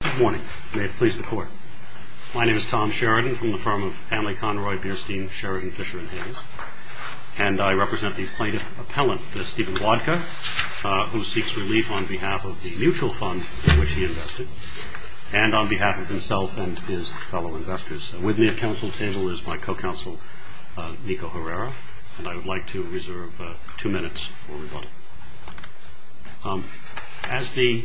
Good morning. May it please the Court. My name is Tom Sheridan from the firm of Stanley Conroy, Bierstein, Sheridan, Fisher & Hayes, and I represent the plaintiff appellant, Stephen Wodka, who seeks relief on behalf of the mutual fund to which he invested, and on behalf of himself and his fellow investors. With me at council table is my co-counsel, Nico Herrera, and I would like to reserve two minutes for rebuttal. As the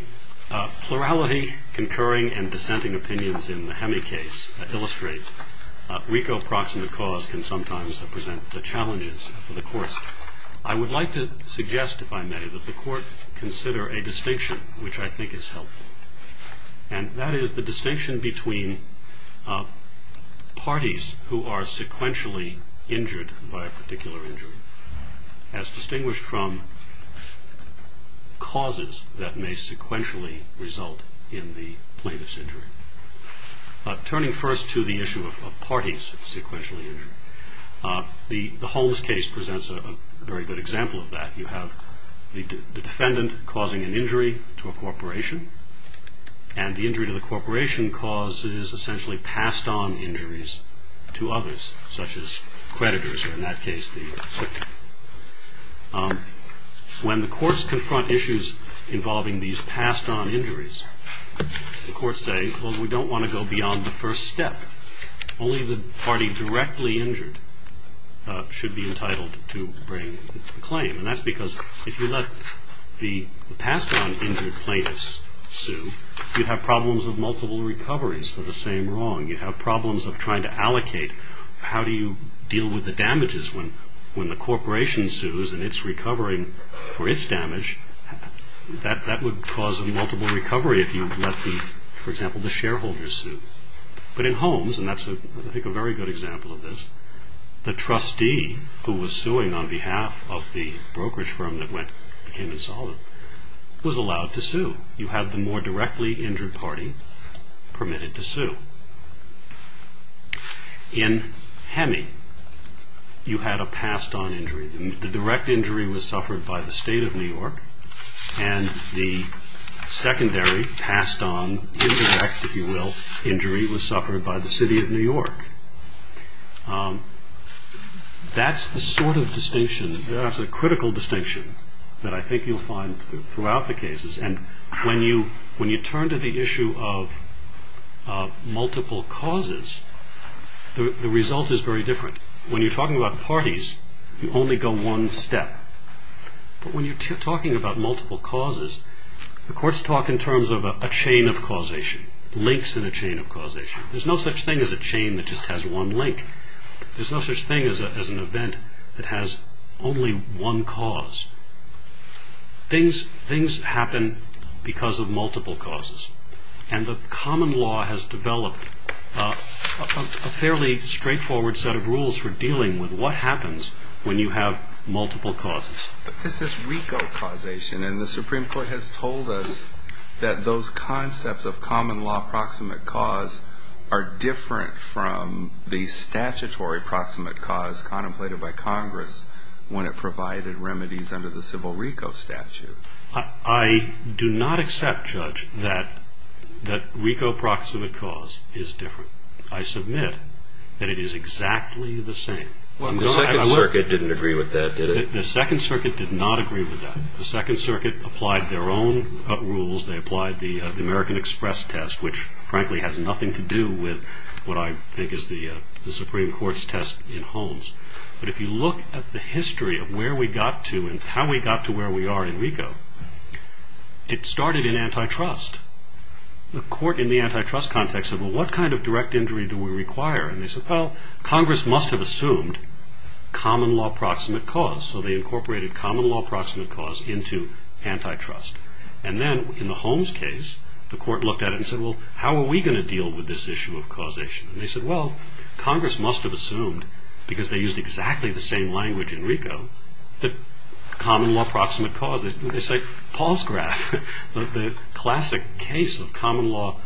plurality, concurring, and dissenting opinions in the Hemi case illustrate, RICO, Proxima, Cause can sometimes present challenges for the courts. I would like to suggest, if I may, that the court consider a distinction which I think is helpful, and that is the distinction between parties who are sequentially injured by a particular injury, as distinguished from causes that may sequentially result in the plaintiff's injury. Turning first to the issue of parties sequentially injured, the Holmes case presents a very good example of that. You have the defendant causing an injury to a corporation, and the injury to the corporation cause is essentially passed on injuries to others, such as creditors, or in that case the circuit. When the courts confront issues involving these passed-on injuries, the courts say, well, we don't want to go beyond the first step. Only the party directly injured should be entitled to bring the claim, and that's because if you let the passed-on injured plaintiffs sue, you'd have problems of multiple recoveries for the same wrong. You'd have problems of trying to allocate. How do you deal with the damages when the corporation sues and it's recovering for its damage? That would cause a multiple recovery if you let, for example, the shareholders sue. But in Holmes, and that's, I think, a very good example of this, the trustee who was suing on behalf of the brokerage firm that became insolvent was allowed to sue. You have the more directly injured party permitted to sue. In Hemi, you had a passed-on injury. The direct injury was suffered by the state of New York, and the secondary passed-on, indirect, if you will, injury was suffered by the city of New York. That's the sort of distinction, that's a critical distinction, that I think you'll find throughout the cases. And when you turn to the issue of multiple causes, the result is very different. When you're talking about parties, you only go one step. But when you're talking about multiple causes, the courts talk in terms of a chain of causation, links in a chain of causation. There's no such thing as a chain that just has one link. There's no such thing as an event that has only one cause. Things happen because of multiple causes. And the common law has developed a fairly straightforward set of rules for dealing with what happens when you have multiple causes. But this is RICO causation, and the Supreme Court has told us that those concepts of common law proximate cause are different from the statutory proximate cause contemplated by Congress when it provided remedies under the civil RICO statute. I do not accept, Judge, that RICO proximate cause is different. I submit that it is exactly the same. The Second Circuit didn't agree with that, did it? The Second Circuit did not agree with that. The Second Circuit applied their own rules. They applied the American Express test, which frankly has nothing to do with what I think is the Supreme Court's test in Holmes. But if you look at the history of where we got to and how we got to where we are in RICO, it started in antitrust. The court in the antitrust context said, well, what kind of direct injury do we require? And they said, well, Congress must have assumed common law proximate cause. So they incorporated common law proximate cause into antitrust. And then in the Holmes case, the court looked at it and said, well, how are we going to deal with this issue of causation? And they said, well, Congress must have assumed, because they used exactly the same language in RICO, that common law proximate cause, they say Paul's graph, the classic case of common law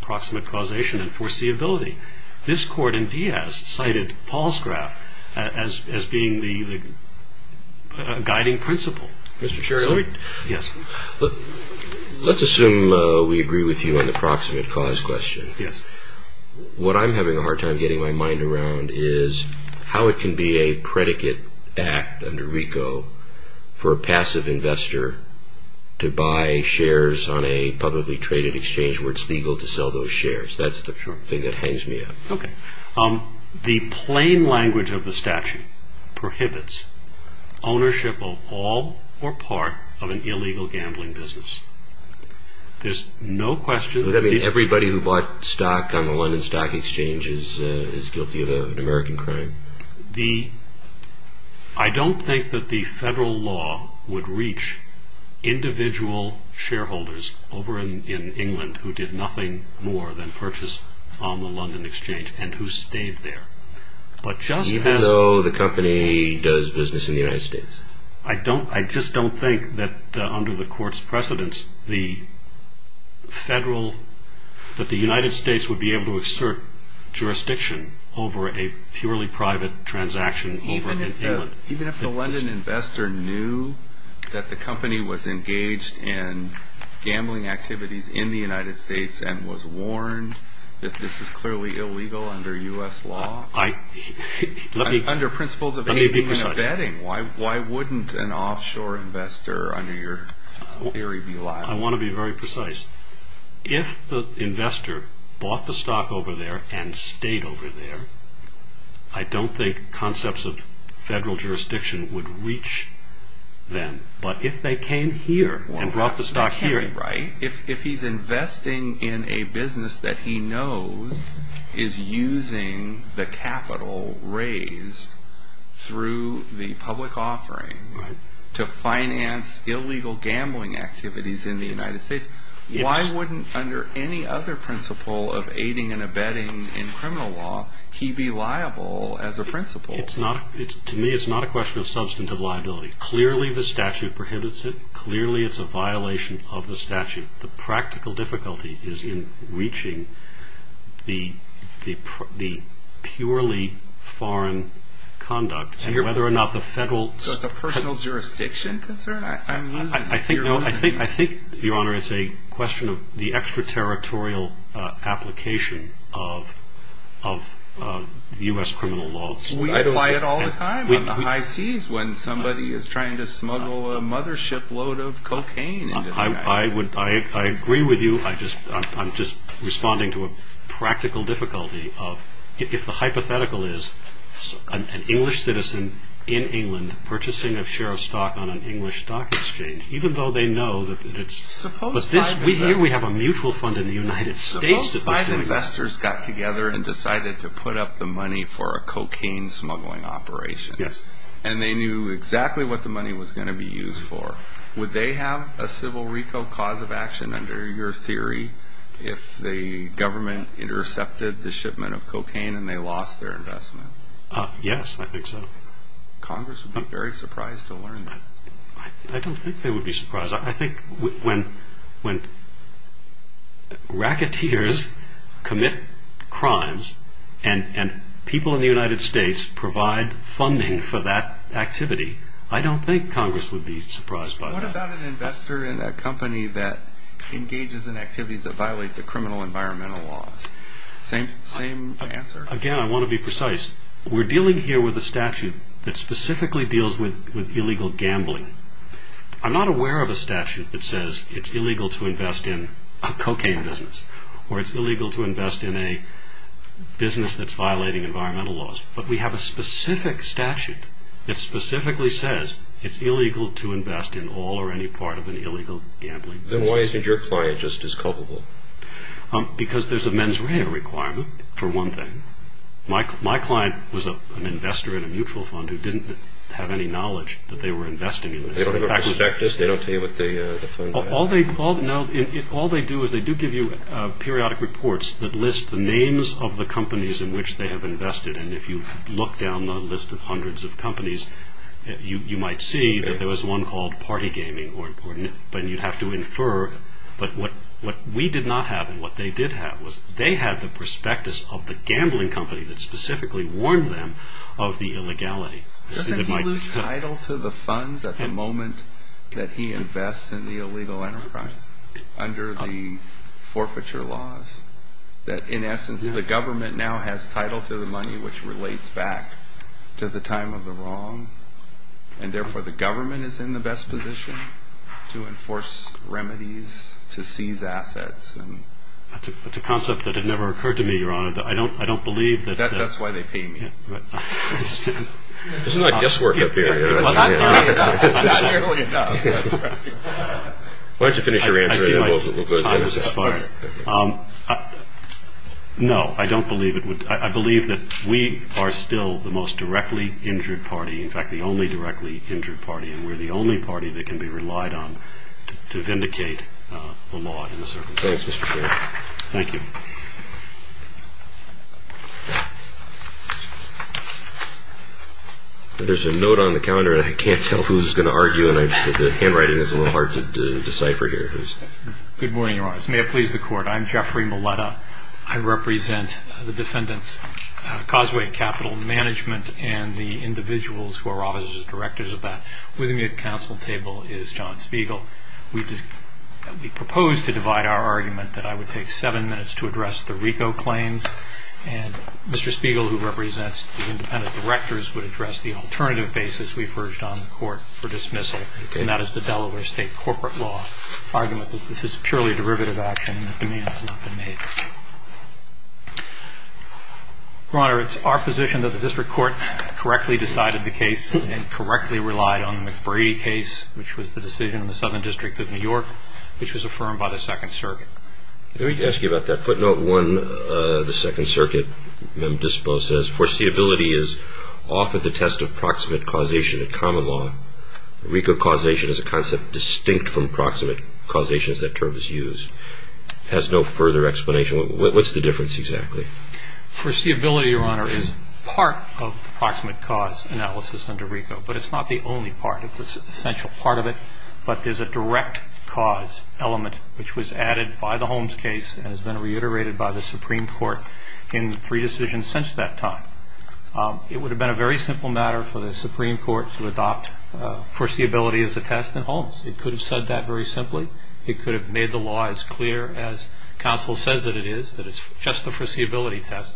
proximate causation and foreseeability. This court in Diaz cited Paul's graph as being the guiding principle. Let's assume we agree with you on the proximate cause question. Yes. What I'm having a hard time getting my mind around is how it can be a predicate act under RICO for a passive investor to buy shares on a publicly traded exchange where it's legal to sell those shares. That's the thing that hangs me up. The plain language of the statute prohibits ownership of all or part of an illegal gambling business. There's no question. Does that mean everybody who bought stock on the London Stock Exchange is guilty of an American crime? I don't think that the federal law would reach individual shareholders over in England who did nothing more than purchase on the London Exchange and who stayed there. Even though the company does business in the United States? I just don't think that under the court's precedence, that the United States would be able to assert jurisdiction over a purely private transaction over in England. Even if the London investor knew that the company was engaged in gambling activities in the United States and was warned that this is clearly illegal under U.S. law? Let me be precise. Why wouldn't an offshore investor under your theory be liable? I want to be very precise. If the investor bought the stock over there and stayed over there, I don't think concepts of federal jurisdiction would reach them. But if they came here and brought the stock here... to finance illegal gambling activities in the United States, why wouldn't under any other principle of aiding and abetting in criminal law, he be liable as a principle? To me, it's not a question of substantive liability. Clearly, the statute prohibits it. Clearly, it's a violation of the statute. The practical difficulty is in reaching the purely foreign conduct and whether or not the federal... So it's a personal jurisdiction concern? I think, Your Honor, it's a question of the extraterritorial application of U.S. criminal law. We apply it all the time on the high seas when somebody is trying to smuggle a mothership load of cocaine into the United States. I agree with you. I'm just responding to a practical difficulty of... If the hypothetical is an English citizen in England purchasing a share of stock on an English stock exchange, even though they know that it's... But here we have a mutual fund in the United States... Suppose five investors got together and decided to put up the money for a cocaine smuggling operation. Yes. And they knew exactly what the money was going to be used for. Would they have a civil reco cause of action under your theory if the government intercepted the shipment of cocaine and they lost their investment? Yes, I think so. Congress would be very surprised to learn that. I don't think they would be surprised. I think when racketeers commit crimes and people in the United States provide funding for that activity, I don't think Congress would be surprised by that. What about an investor in a company that engages in activities that violate the criminal environmental laws? Same answer? Again, I want to be precise. We're dealing here with a statute that specifically deals with illegal gambling. I'm not aware of a statute that says it's illegal to invest in a cocaine business or it's illegal to invest in a business that's violating environmental laws, but we have a specific statute that specifically says it's illegal to invest in all or any part of an illegal gambling business. Then why isn't your client just as culpable? Because there's a mens rea requirement, for one thing. My client was an investor in a mutual fund who didn't have any knowledge that they were investing in this. They don't have a perspective? They don't tell you what the fund had? All they do is they do give you periodic reports that list the names of the companies in which they have invested, and if you look down the list of hundreds of companies, you might see that there was one called Party Gaming, but you'd have to infer. But what we did not have and what they did have was they had the prospectus of the gambling company that specifically warned them of the illegality. Doesn't he lose title to the funds at the moment that he invests in the illegal enterprise under the forfeiture laws? That, in essence, the government now has title to the money which relates back to the time of the wrong, and therefore the government is in the best position to enforce remedies to seize assets. That's a concept that had never occurred to me, Your Honor. I don't believe that... That's why they pay me. Isn't that guesswork up there? Well, not nearly enough. Why don't you finish your answer and then we'll go ahead. No, I don't believe it. I believe that we are still the most directly injured party, in fact, the only directly injured party, and we're the only party that can be relied on to vindicate the law in this circumstance. Thanks, Mr. Chairman. Thank you. There's a note on the counter, and I can't tell who's going to argue, and the handwriting is a little hard to decipher here. Good morning, Your Honors. May it please the Court. I'm Jeffrey Moletta. I represent the defendants' causeway capital management and the individuals who are officers and directors of that. With me at the counsel table is John Spiegel. We propose to divide our argument that I would take seven minutes to address the RICO claims, and Mr. Spiegel, who represents the independent directors, would address the alternative basis we've urged on the Court for dismissal, and that is the Delaware State corporate law argument that this is purely a derivative action and the demand has not been made. Your Honor, it's our position that the district court correctly decided the case and correctly relied on the McBrady case, which was the decision of the Southern District of New York, which was affirmed by the Second Circuit. Let me ask you about that footnote. One, the Second Circuit, Memo Dispo, says, foreseeability is often the test of proximate causation in common law. RICO causation is a concept distinct from proximate causation as that term is used. It has no further explanation. What's the difference exactly? Foreseeability, Your Honor, is part of the proximate cause analysis under RICO, but it's not the only part. It's an essential part of it, but there's a direct cause element, which was added by the Holmes case and has been reiterated by the Supreme Court in the pre-decision since that time. It would have been a very simple matter for the Supreme Court to adopt foreseeability as a test in Holmes. It could have said that very simply. It could have made the law as clear as counsel says that it is, that it's just a foreseeability test,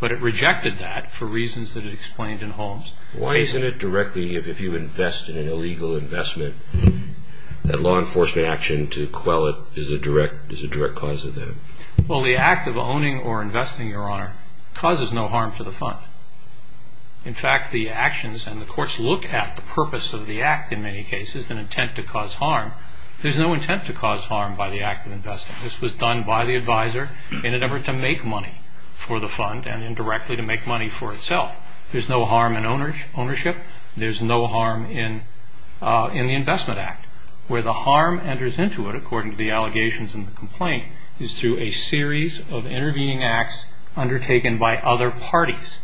but it rejected that for reasons that it explained in Holmes. Why isn't it directly, if you invest in an illegal investment, that law enforcement action to quell it is a direct cause of that? Well, the act of owning or investing, Your Honor, causes no harm to the fund. In fact, the actions and the courts look at the purpose of the act in many cases, an intent to cause harm. There's no intent to cause harm by the act of investing. This was done by the advisor in an effort to make money for the fund and indirectly to make money for itself. There's no harm in ownership. There's no harm in the investment act. Where the harm enters into it, according to the allegations in the complaint, is through a series of intervening acts undertaken by other parties.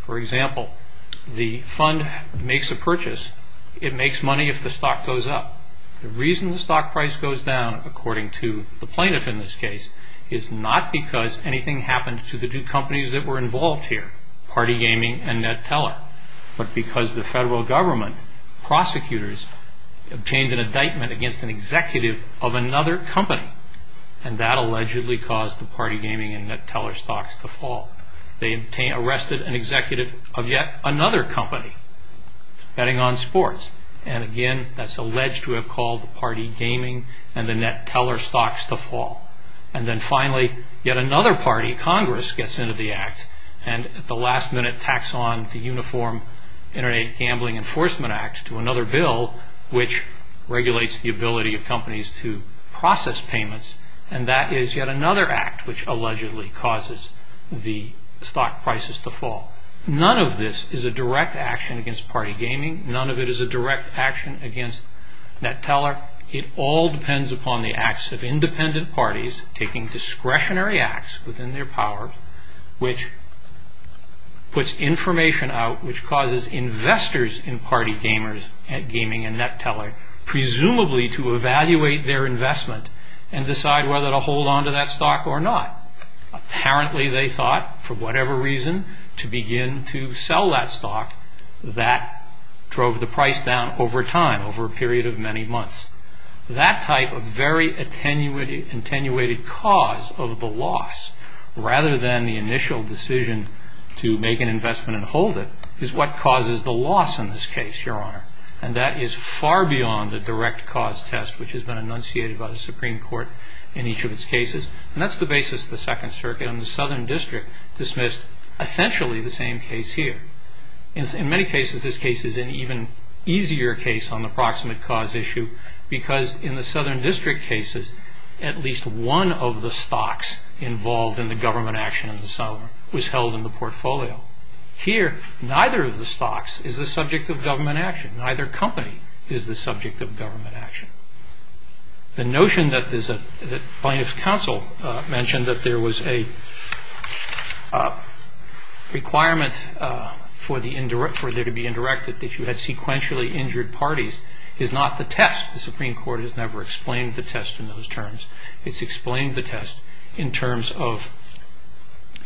For example, the fund makes a purchase. It makes money if the stock goes up. The reason the stock price goes down, according to the plaintiff in this case, is not because anything happened to the two companies that were involved here, Party Gaming and Ned Teller, but because the federal government, prosecutors, obtained an indictment against an executive of another company and that allegedly caused the Party Gaming and Ned Teller stocks to fall. They arrested an executive of yet another company, Betting on Sports, and again, that's alleged to have called the Party Gaming and the Ned Teller stocks to fall. And then finally, yet another party, Congress, gets into the act and at the last minute tacks on the Uniform Internet Gambling Enforcement Act to another bill which regulates the ability of companies to process payments and that is yet another act which allegedly causes the stock prices to fall. None of this is a direct action against Party Gaming. None of it is a direct action against Ned Teller. It all depends upon the acts of independent parties taking discretionary acts within their power which puts information out which causes investors in Party Gaming and Ned Teller presumably to evaluate their investment and decide whether to hold on to that stock or not. Apparently they thought, for whatever reason, to begin to sell that stock that drove the price down over time, over a period of many months. That type of very attenuated cause of the loss rather than the initial decision to make an investment and hold it is what causes the loss in this case, Your Honor. And that is far beyond the direct cause test which has been enunciated by the Supreme Court in each of its cases. And that's the basis of the Second Circuit and the Southern District dismissed essentially the same case here. In many cases, this case is an even easier case on the proximate cause issue because in the Southern District cases, at least one of the stocks involved in the government action was held in the portfolio. Here, neither of the stocks is the subject of government action. Neither company is the subject of government action. The notion that plaintiff's counsel mentioned that there was a requirement for there to be indirected, that you had sequentially injured parties, is not the test. The Supreme Court has never explained the test in those terms. It's explained the test in terms of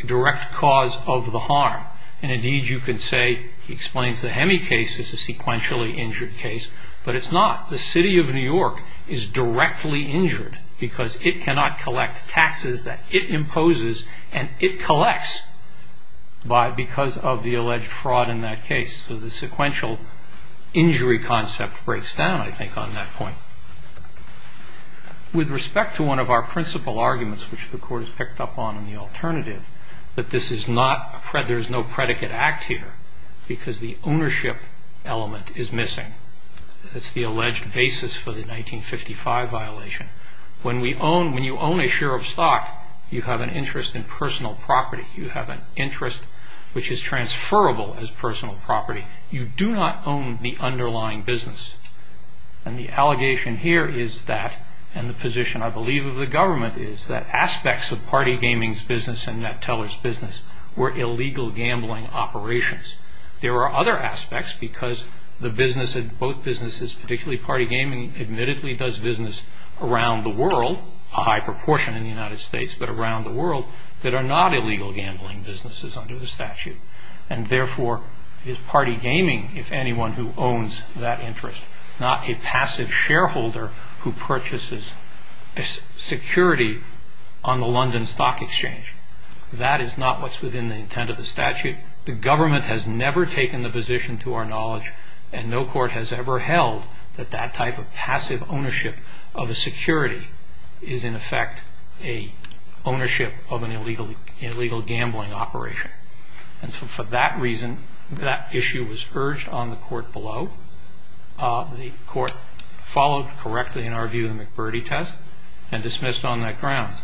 direct cause of the harm. And indeed, you could say, he explains the Hemi case as a sequentially injured case, but it's not. The City of New York is directly injured because it cannot collect taxes that it imposes and it collects because of the alleged fraud in that case. So the sequential injury concept breaks down, I think, on that point. With respect to one of our principal arguments, which the Court has picked up on in the alternative, that there's no predicate act here because the ownership element is missing. That's the alleged basis for the 1955 violation. When you own a share of stock, you have an interest in personal property. You have an interest which is transferable as personal property. You do not own the underlying business. And the allegation here is that, and the position, I believe, of the government is that aspects of Party Gaming's business and NetTeller's business were illegal gambling operations. There are other aspects because both businesses, particularly Party Gaming, admittedly does business around the world, a high proportion in the United States, but around the world that are not illegal gambling businesses under the statute. And therefore is Party Gaming, if anyone who owns that interest, not a passive shareholder who purchases security on the London Stock Exchange? That is not what's within the intent of the statute. The government has never taken the position to our knowledge and no court has ever held that that type of passive ownership of a security is, in effect, an ownership of an illegal gambling operation. And so for that reason, that issue was urged on the court below. The court followed correctly, in our view, the McBurdey test and dismissed on that ground.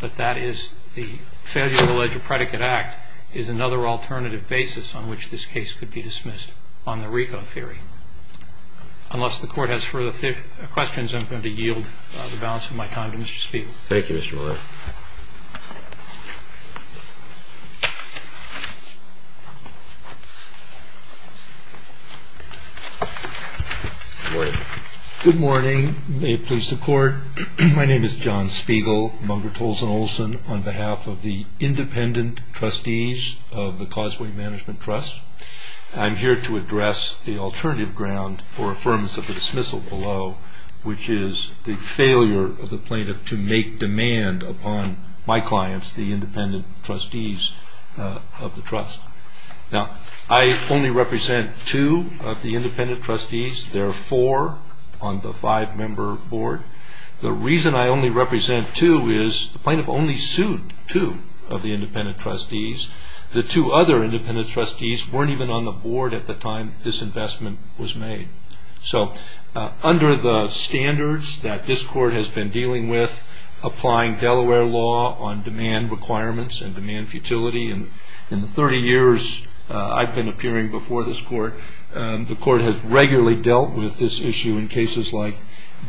But that is the failure to allege a predicate act is another alternative basis on which this case could be dismissed on the RICO theory. Unless the court has further questions, I'm going to yield the balance of my time to Mr. Spiegel. Thank you, Mr. Miller. Good morning. Good morning. May it please the court. My name is John Spiegel, among Rituals and Olson, on behalf of the independent trustees of the Causeway Management Trust. I'm here to address the alternative ground for affirmance of the dismissal below, which is the failure of the plaintiff to make demand upon my clients, the independent trustees of the trust. Now, I only represent two of the independent trustees. There are four on the five-member board. The reason I only represent two is the plaintiff only sued two of the independent trustees. The two other independent trustees weren't even on the board at the time this investment was made. So under the standards that this court has been dealing with, applying Delaware law on demand requirements and demand futility, and in the 30 years I've been appearing before this court, the court has regularly dealt with this issue in cases like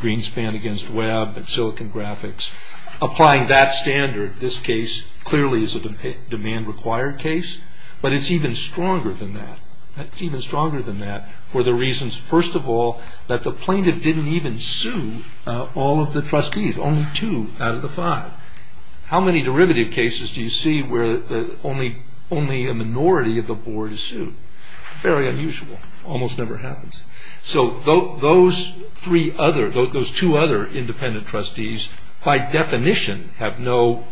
Greenspan against Webb and Silicon Graphics. Applying that standard, this case clearly is a demand-required case, but it's even stronger than that. It's even stronger than that for the reasons, first of all, that the plaintiff didn't even sue all of the trustees, only two out of the five. How many derivative cases do you see where only a minority of the board is sued? Fairly unusual. Almost never happens. So those two other independent trustees, by definition, have no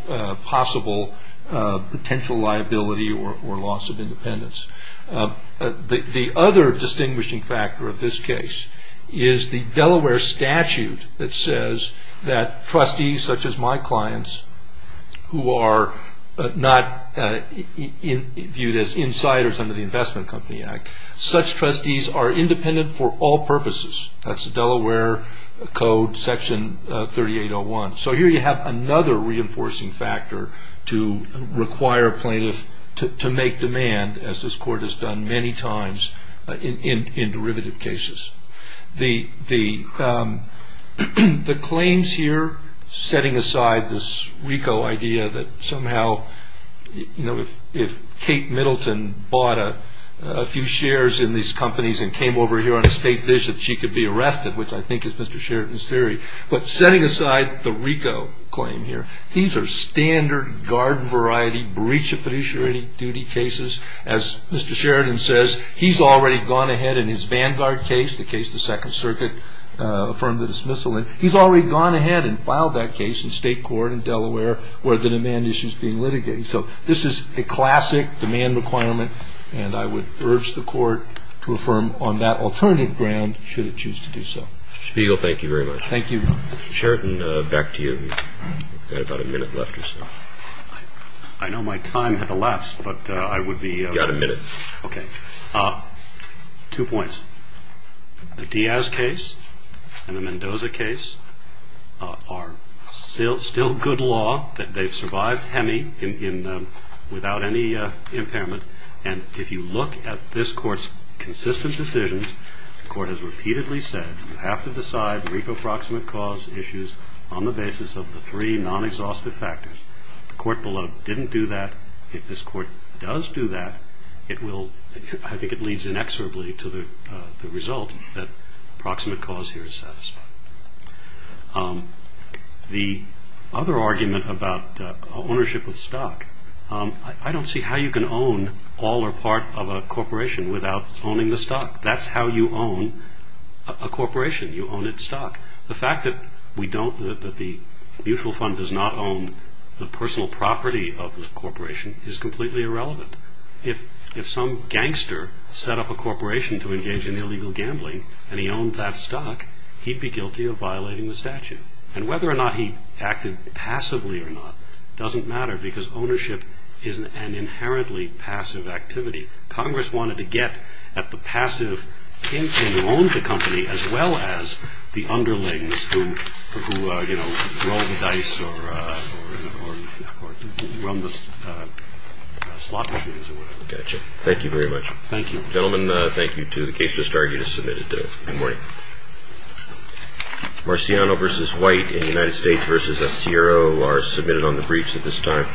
possible potential liability or loss of independence. The other distinguishing factor of this case is the Delaware statute that says that trustees, such as my clients, who are not viewed as insiders under the Investment Company Act, such trustees are independent for all purposes. That's the Delaware Code, Section 3801. So here you have another reinforcing factor to require plaintiffs to make demand, as this court has done many times in derivative cases. The claims here, setting aside this RICO idea that somehow, if Kate Middleton bought a few shares in these companies and came over here on a state visit, she could be arrested, which I think is Mr. Sheridan's theory. But setting aside the RICO claim here, these are standard guard variety breach of fiduciary duty cases. As Mr. Sheridan says, he's already gone ahead in his Vanguard case, the case the Second Circuit affirmed the dismissal in. He's already gone ahead and filed that case in state court in Delaware where the demand issue is being litigated. So this is a classic demand requirement, and I would urge the court to affirm on that alternative ground should it choose to do so. Mr. Spiegel, thank you very much. Thank you. Mr. Sheridan, back to you. You've got about a minute left or so. I know my time had to last, but I would be- You've got a minute. Okay. Two points. The Diaz case and the Mendoza case are still good law. They've survived HEMI without any impairment, and if you look at this court's consistent decisions, the court has repeatedly said you have to decide RICO proximate cause issues on the basis of the three non-exhaustive factors. The court below didn't do that. If this court does do that, I think it leads inexorably to the result that proximate cause here is satisfied. The other argument about ownership of stock, I don't see how you can own all or part of a corporation without owning the stock. That's how you own a corporation. You own its stock. The fact that the mutual fund does not own the personal property of the corporation is completely irrelevant. If some gangster set up a corporation to engage in illegal gambling and he owned that stock, he'd be guilty of violating the statute. And whether or not he acted passively or not doesn't matter because ownership is an inherently passive activity. Congress wanted to get at the passive in who owns the company as well as the underlings who roll the dice or run the slot machines or whatever. Thank you very much. Thank you. Gentlemen, thank you too. The case just argued is submitted. Good morning. Marciano v. White in United States v. Sierro are submitted on the briefs at this time.